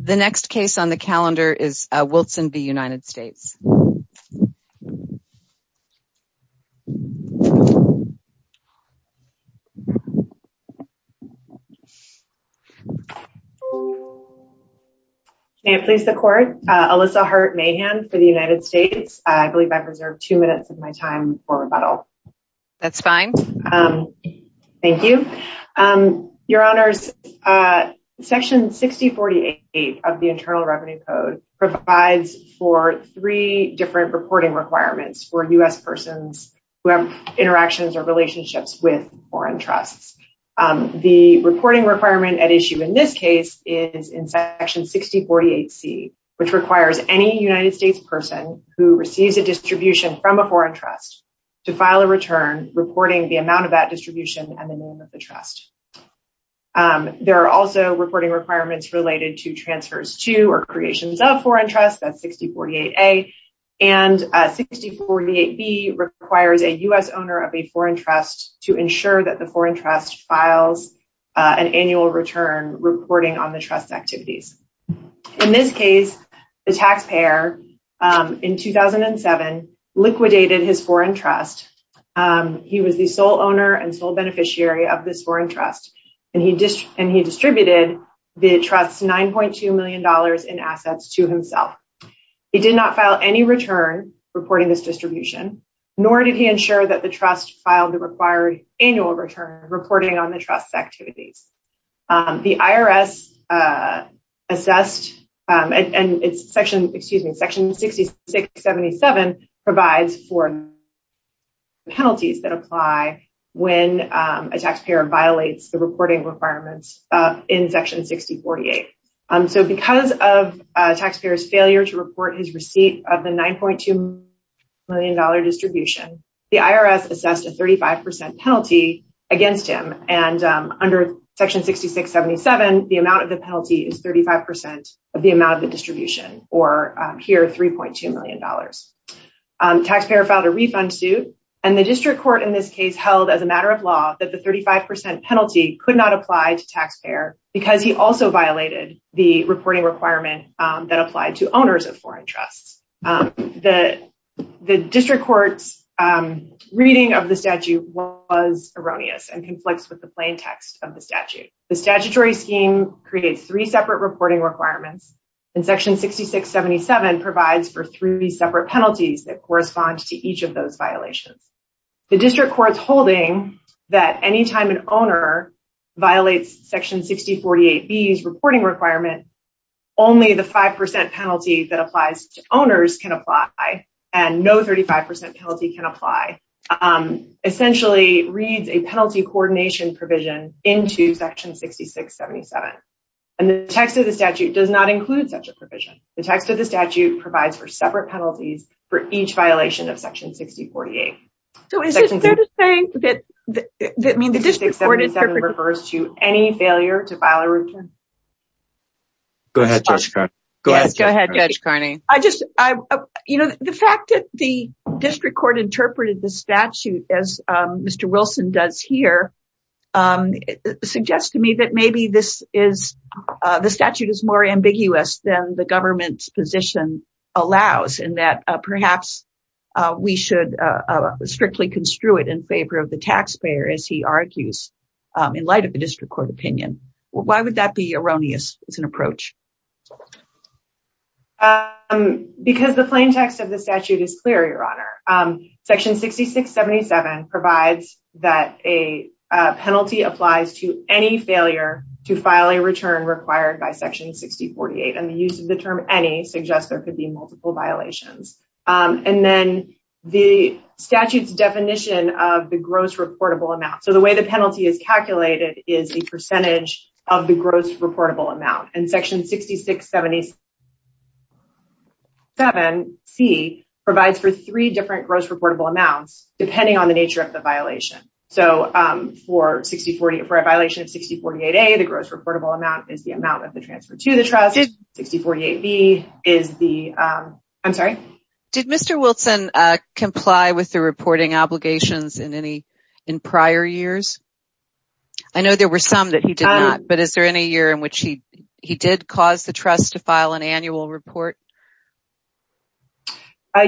The next case on the calendar is Wilson v United States. May it please the court, Alyssa Hart Mahan for the United States. I believe I've reserved two minutes of my time for rebuttal. That's fine. Thank you. Your Honors, Section 6048 of the Internal Revenue Code provides for three different reporting requirements for U.S. persons who have interactions or relationships with foreign trusts. The reporting requirement at issue in this case is in Section 6048C, which requires any United States person who receives a distribution from a foreign trust to file a return reporting the amount of that distribution and the name of the trust. There are also reporting requirements related to transfers to or creations of foreign trusts. That's 6048A. And 6048B requires a U.S. owner of a foreign trust to ensure that the foreign trust files an annual return reporting on the trust's activities. In this case, the IRS liquidated his foreign trust. He was the sole owner and sole beneficiary of this foreign trust, and he distributed the trust's $9.2 million in assets to himself. He did not file any return reporting this distribution, nor did he ensure that the trust filed the required annual return reporting on the trust's activities. The IRS assessed and it's Section 6677 provides for penalties that apply when a taxpayer violates the reporting requirements in Section 6048. So because of a taxpayer's failure to report his receipt of the $9.2 million distribution, the IRS assessed a 35% penalty against him. And under Section 6677, the amount of the penalty is 35% of the amount of the distribution, or here $3.2 million. Taxpayer filed a refund suit. And the district court in this case held as a matter of law that the 35% penalty could not apply to taxpayer because he also violated the reporting requirement that applied to owners of foreign trusts. The district court's reading of the statute was erroneous and conflicts with the plain text of the statute. The statutory scheme creates three separate reporting requirements and Section 6677 provides for three separate penalties that correspond to each of those violations. The district court's holding that anytime an owner violates Section 6048B's reporting requirement, only the 5% penalty that applies to owners can apply and no 35% penalty can apply, essentially reads a penalty coordination provision into Section 6677. And the text of the statute does not include such a provision. The text of the statute provides for separate penalties for each violation of Section 6048. So is it fair to say that the district court is perfect? The 6677 refers to any failure to file a return. Go ahead, Judge Carney. I just, you know, the fact that the district court interpreted the statute as Mr. Wilson does here suggests to me that maybe this is, the statute is more ambiguous than the government's position allows and that perhaps we should strictly construe it in favor of the taxpayer as he argues in light of the district court opinion. Why would that be erroneous as an approach? Because the plain text of the statute is clear, Your Honor. Section 6677 provides that a penalty applies to any failure to file a return required by Section 6048 and the use of the term any suggests there could be multiple violations. And then the statute's definition of the gross reportable amount. So the way the penalty is calculated is the percentage of the gross reportable amount. And Section 6677C provides for three different gross reportable amounts depending on the nature of the violation. So for 6040, for a violation of 6048A, the gross reportable amount is the amount of the transfer to the trust. 6048B is the, I'm sorry. Did Mr. Wilson comply with the reporting obligations in any, in prior years? I know there were some that he did not, but is there any year in which he did cause the trust to file an annual report?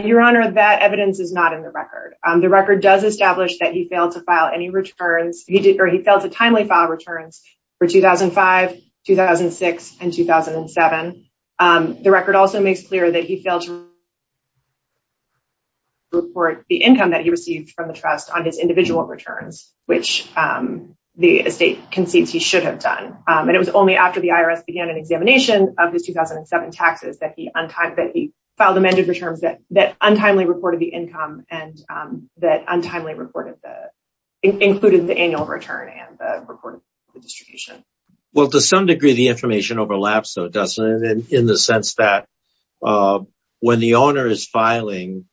Your Honor, that evidence is not in the record. The record does establish that he failed to file any returns. He did, or he failed to timely file returns for 2005, 2006, and 2007. The record also makes clear that he failed to report the income that he received from the trust on his individual returns, which the estate concedes he should have done. And it was only after the IRS began an examination of his 2007 taxes that he filed amended returns that untimely reported the income and that untimely included the annual return and the reported distribution. Well, to some degree, the information overlaps though, doesn't it? In the sense that when the owner is filing,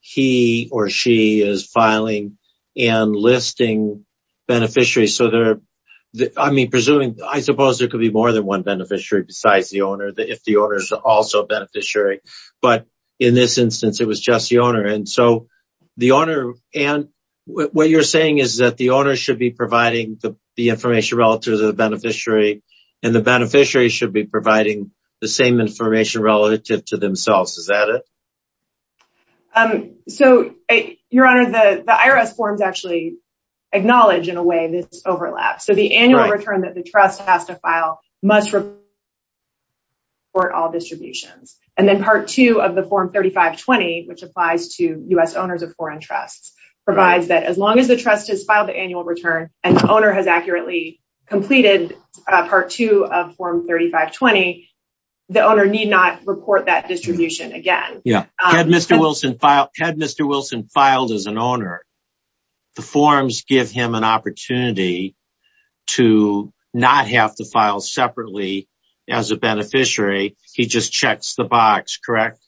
he or she is filing and listing beneficiaries. So they're, I mean, presuming, I suppose there could be more than one beneficiary besides the owner, if the owner is also a beneficiary. But in this instance, it was just the owner. And so the owner, Ann, what you're saying is that the owner should be providing the information relative to the beneficiary and the beneficiary should be providing the same information relative to themselves. Is that it? So, your honor, the IRS forms actually acknowledge in a way this overlap. So the annual return that the trust has to file must report all distributions. And then part two of the form 3520, which applies to U.S. owners of foreign trusts, provides that as long as the part two of form 3520, the owner need not report that distribution again. Yeah. Had Mr. Wilson filed as an owner, the forms give him an opportunity to not have to file separately as a beneficiary. He just checks the box, correct?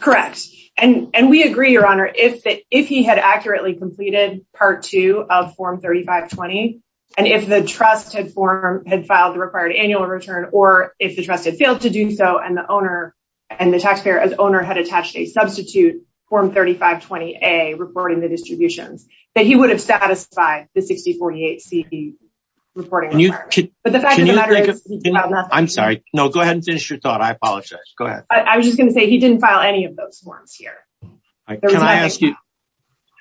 Correct. And we agree, your honor, if he had accurately completed part two of form 3520, and if the trust had filed the required annual return, or if the trust had failed to do so and the owner and the taxpayer as owner had attached a substitute form 3520A reporting the distributions, that he would have satisfied the 6048C reporting requirement. But the fact of the matter is- I'm sorry. No, go ahead and finish your thought. I apologize. Go ahead. I was just going to say he didn't file any of those forms here. Can I ask you,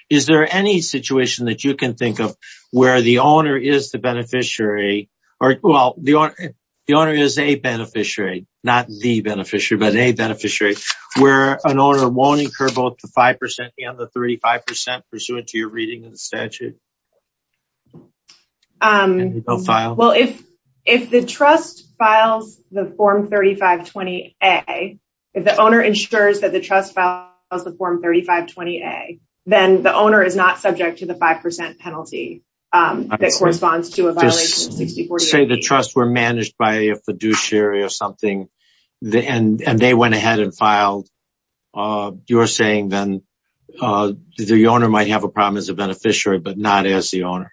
is there any situation that you can think of where the owner is the beneficiary, or well, the owner is a beneficiary, not the beneficiary, but a beneficiary, where an owner won't incur both the 5% and the 35% pursuant to your reading of the statute? Well, if the trust files the form 3520A, if the owner ensures that the trust files form 3520A, then the owner is not subject to the 5% penalty that corresponds to a violation of 6048B. Just say the trust were managed by a fiduciary or something, and they went ahead and filed. You're saying then the owner might have a problem as a beneficiary, but not as the owner.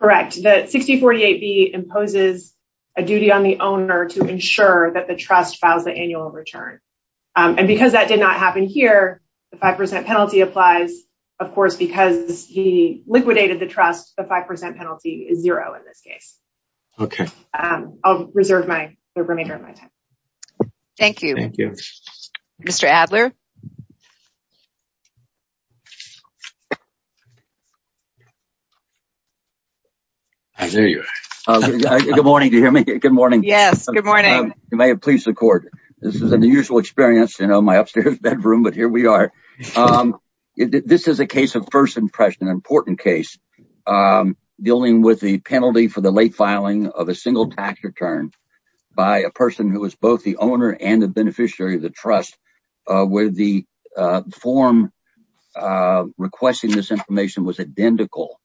Correct. The 6048B imposes a duty on the owner to ensure that the trust files the annual return. Because that did not happen here, the 5% penalty applies. Of course, because he liquidated the trust, the 5% penalty is zero in this case. I'll reserve the remainder of my time. Thank you. Mr. Adler? There you are. Good morning. Do you hear me? Good morning. Yes. Good morning. You may have pleased the court. This is an unusual experience in my upstairs bedroom, but here we are. This is a case of first impression, an important case dealing with the penalty for the late filing of a single tax return by a person who is both the owner and the beneficiary of the trust where the form requesting this information was identical.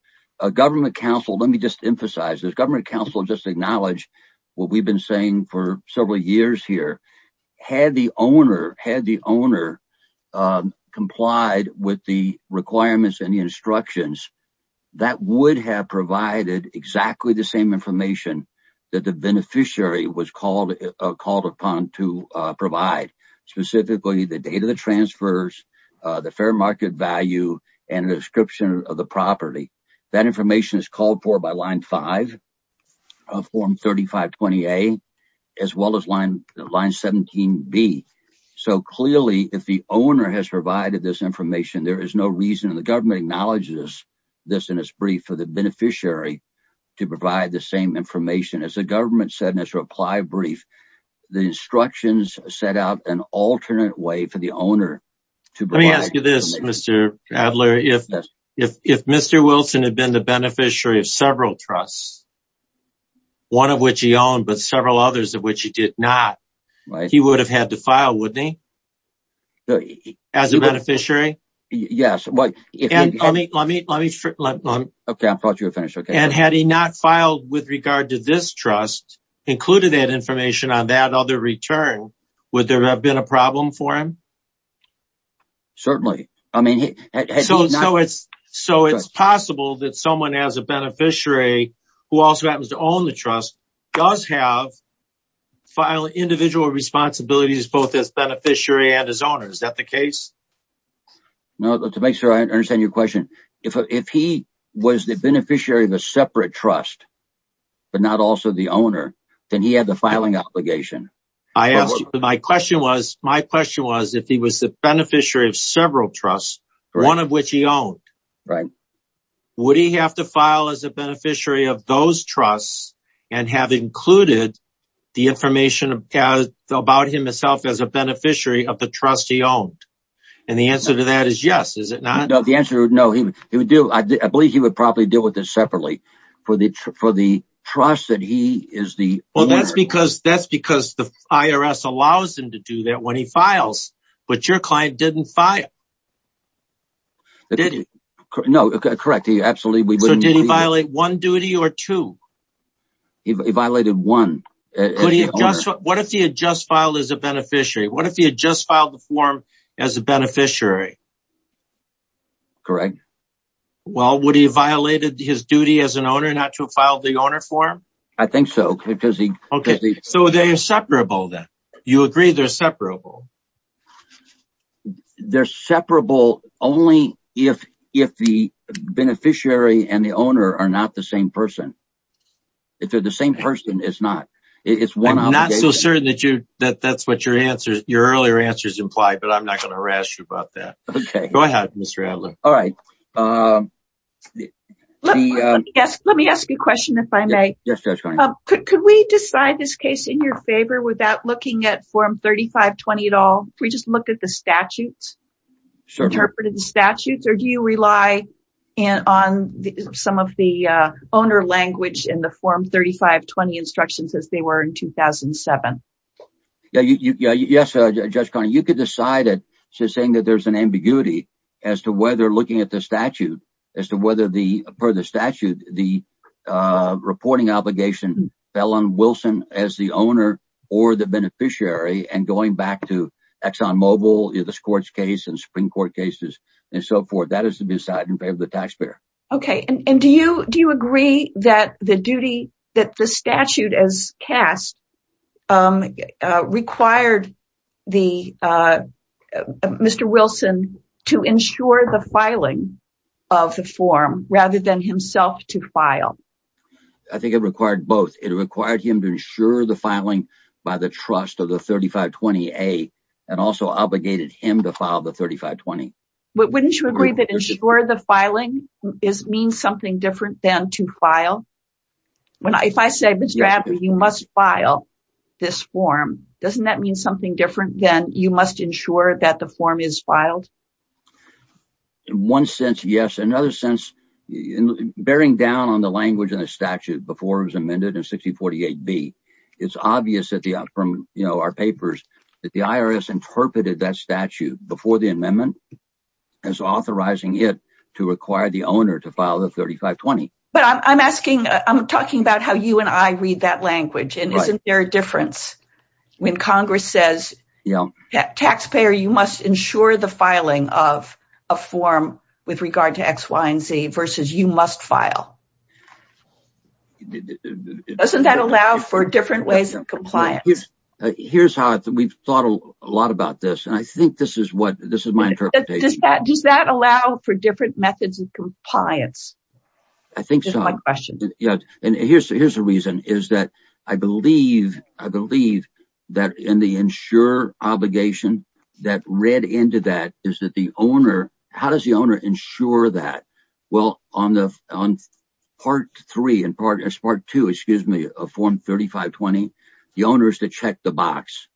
Government counsel just acknowledged what we've been saying for several years here. Had the owner complied with the requirements and the instructions, that would have provided exactly the same information that the beneficiary was called upon to provide, specifically the date of the transfers, the fair market value, and the description of the property. That information is called for by line 5 of form 3520A, as well as line 17B. So clearly, if the owner has provided this information, there is no reason, and the government acknowledges this in its brief, for the beneficiary to provide the same information. As the government said in its reply brief, the instructions set out an alternate way for the owner to provide. Mr. Adler, if Mr. Wilson had been the beneficiary of several trusts, one of which he owned, but several others of which he did not, he would have had to file, wouldn't he? As a beneficiary? Yes. And had he not filed with regard to this trust, included that information on that other return, would there have been a problem for him? Certainly. So it's possible that someone as a beneficiary, who also happens to own the trust, does have individual responsibilities, both as beneficiary and as owner. Is that the case? No, to make sure I understand your question, if he was the beneficiary of a separate trust, but not also the owner, then he had the filing obligation. I asked you, my question was, if he was the beneficiary of several trusts, one of which he owned, would he have to file as a beneficiary of those trusts and have included the information about himself as a beneficiary of the trust he owned? And the answer to that is yes, is it not? No, the answer is no. I believe he would probably deal with this separately for the trust that he is the owner. That's because the IRS allows him to do that when he files, but your client didn't file, did he? No, correct. Absolutely. So did he violate one duty or two? He violated one. What if he had just filed as a beneficiary? What if he had just filed the form as a beneficiary? Correct. Well, would he have violated his duty as an owner not to have filed the owner form? I think so. So they are separable then? You agree they're separable? They're separable only if the beneficiary and the owner are not the same person. If they're the same person, it's not. I'm not so certain that that's what your earlier answers imply, but I'm not going to harass you about that. Go ahead, Mr. Adler. All right. Let me ask you a question, if I may. Could we decide this case in your favor without looking at Form 3520 at all? Can we just look at the statutes, interpret the statutes, or do you rely on some of the owner language in the Form 3520 instructions as they were in 2007? Yeah. Yes, Judge Carney, you could decide it. It's just saying that there's an ambiguity as to whether looking at the statute, as to whether the further statute, the reporting obligation fell on Wilson as the owner or the beneficiary and going back to Exxon Mobil, the Scorch case and Supreme Court cases and so forth. That is to be decided in favor of the required Mr. Wilson to ensure the filing of the form rather than himself to file. I think it required both. It required him to ensure the filing by the trust of the 3520A and also obligated him to file the 3520. Wouldn't you agree that ensure the filing means something different than to file? If I say, Mr. Abner, you must file this form, doesn't that mean something different than you must ensure that the form is filed? One sense, yes. Another sense, bearing down on the language in the statute before it was amended in 6048B, it's obvious from our papers that the IRS interpreted that statute before the amendment as authorizing it to require the owner to file the 3520. I'm talking about how you and I read that language. Isn't there a difference when Congress says, taxpayer, you must ensure the filing of a form with regard to X, Y, and Z versus you must file? Doesn't that allow for interpretation? Does that allow for different methods of compliance? I think so. Here's the reason. I believe that in the ensure obligation that read into that, how does the owner ensure that? Well, on part three and part two of form 3520, the owner is to check the box.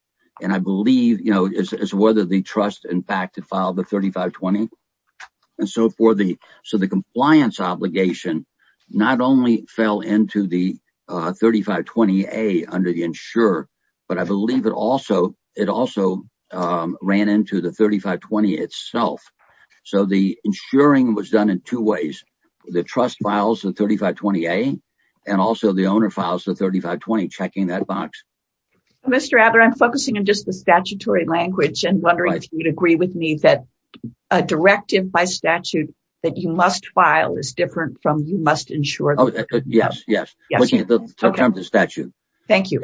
I believe it's whether the trust in fact filed the 3520. The compliance obligation not only fell into the 3520A under the ensure, but I believe it also ran into the 3520 itself. The ensuring was done in two ways. The trust files the 3520A and also the owner files the 3520 checking that box. Mr. Adler, I'm focusing on just the statutory language and wondering if you'd agree with me that a directive by statute that you must file is different from you must ensure. Yes, yes. Looking at the statute. Thank you.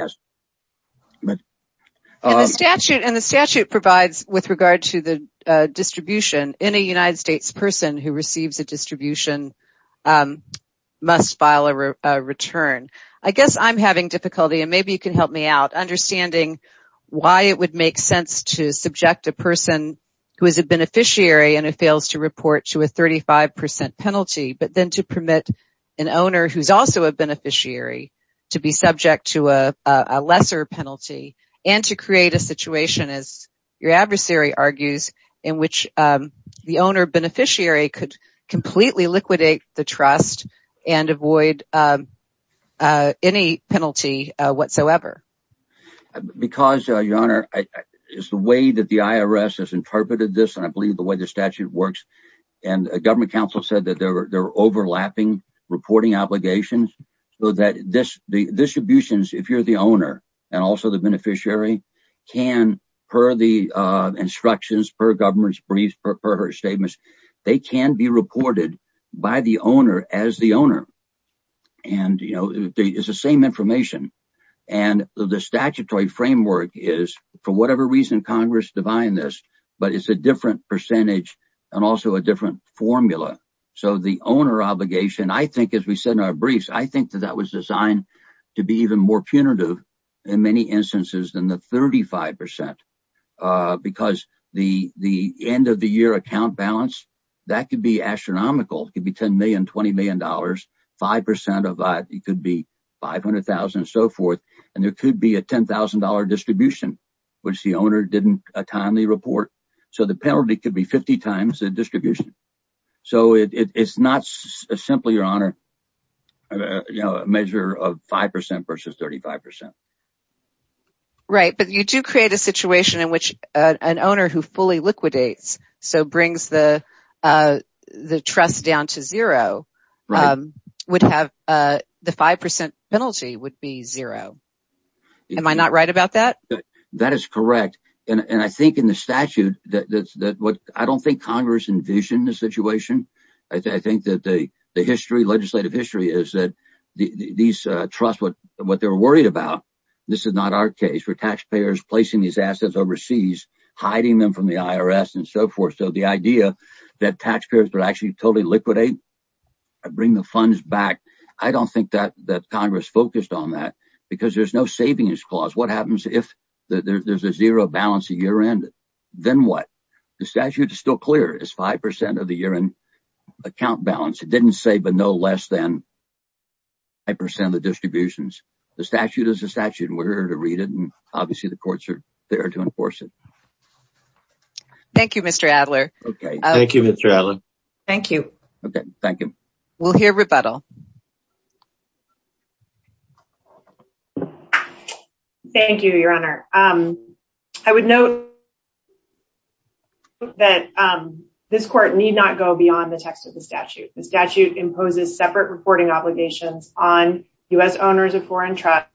The statute provides with regard to the distribution. Any United States person who receives a distribution must file a return. I guess I'm having difficulty, and maybe you can help me out, understanding why it would make sense to subject a person who is a beneficiary and it fails to report to a 35% penalty, but then to permit an owner who's also a beneficiary to be subject to a lesser penalty and to create a situation, as your beneficiary could completely liquidate the trust and avoid any penalty whatsoever. Because your honor, it's the way that the IRS has interpreted this, and I believe the way the statute works, and a government counsel said that they're overlapping reporting obligations, so that the distributions, if you're the owner and also the beneficiary, can, per the instructions, per government's briefs, per her statements, they can be reported by the owner as the owner. And, you know, it's the same information. And the statutory framework is, for whatever reason, Congress defined this, but it's a different percentage and also a different formula. So the owner obligation, I think, as we said in our briefs, I think that that was designed to be even more punitive in many instances than the 35%. Because the end of the year account balance, that could be astronomical. It could be $10 million, $20 million, 5% of that, it could be $500,000 and so forth. And there could be a $10,000 distribution, which the owner didn't timely report. So the penalty could be 50 times the distribution. So it's not simply, your honor, you know, a measure of 5% versus 35%. Right, but you do create a situation in which an owner who fully liquidates, so brings the trust down to zero, would have the 5% penalty would be zero. Am I not right about that? That is correct. And I think in the statute, what I don't think Congress envisioned the situation. I think that the history, legislative history is that these trust what they're worried about. This is not our case. We're taxpayers placing these assets overseas, hiding them from the IRS and so forth. So the idea that taxpayers would actually totally liquidate, bring the funds back. I don't think that Congress focused on that, because there's no savings clause. What happens if there's a zero balance a year end? Then what? The statute is still clear is 5% of the year end account balance. It didn't say, but no less than 5% of the distributions. The statute is a statute and we're here to read it. And obviously the courts are there to enforce it. Thank you, Mr. Adler. Okay. Thank you, Mr. Adler. Thank you. Okay. Thank you. We'll hear rebuttal. Thank you, Your Honor. I would note that this court need not go beyond the text of the statute. The statute imposes separate reporting obligations on US owners of foreign trust,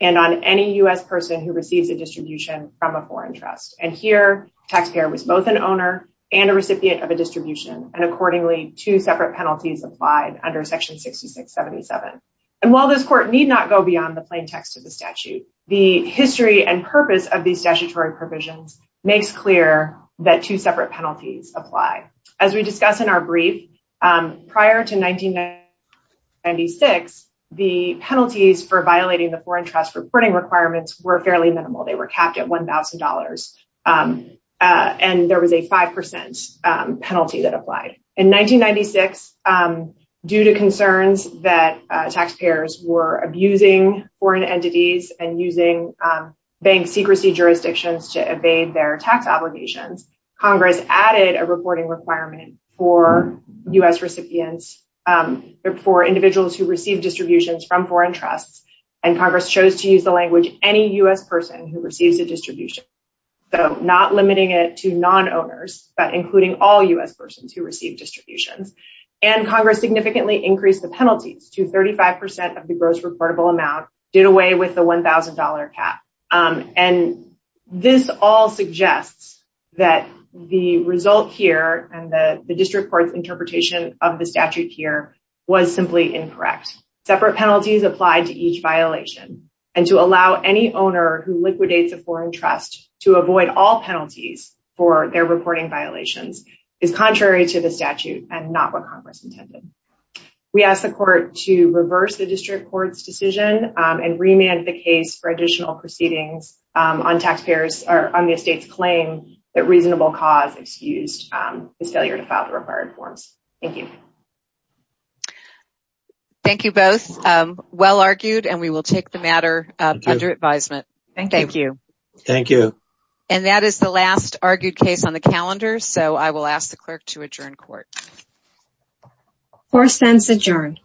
and on any US person who receives a distribution from a foreign trust. And here, taxpayer was both an owner and a recipient of a distribution and accordingly, two separate penalties applied under Section 6677. And while this court need not go beyond the plain text of the statute, the history and purpose of these statutory provisions makes clear that two separate penalties apply. As we discuss in our brief, prior to 1996, the penalties for violating the foreign trust reporting requirements were fairly minimal. They were capped at $1,000. And there was a 5% penalty that applied. In 1996, due to concerns that taxpayers were abusing foreign entities and using bank secrecy jurisdictions to evade their tax obligations, Congress added a reporting requirement for US recipients, for individuals who receive distributions from foreign trusts. And Congress chose to use the language, any US person who receives a distribution. So not limiting it to non-owners, but including all US persons who receive distributions. And Congress significantly increased the penalties to 35% of the gross reportable amount, did away with the $1,000 cap. And this all suggests that the result here and the district court's interpretation of the statute here was simply incorrect. Separate penalties applied to each violation. And to allow any owner who liquidates a foreign trust to avoid all penalties for their reporting violations is contrary to the statute and not what Congress intended. We ask the court to reverse the district court's decision and remand the case for additional proceedings on taxpayers, or on the estate's claim that reasonable cause excused is failure to file the required forms. Thank you. Thank you both. Well argued and we thank you. And that is the last argued case on the calendar. So I will ask the clerk to adjourn court. Four cents adjourned.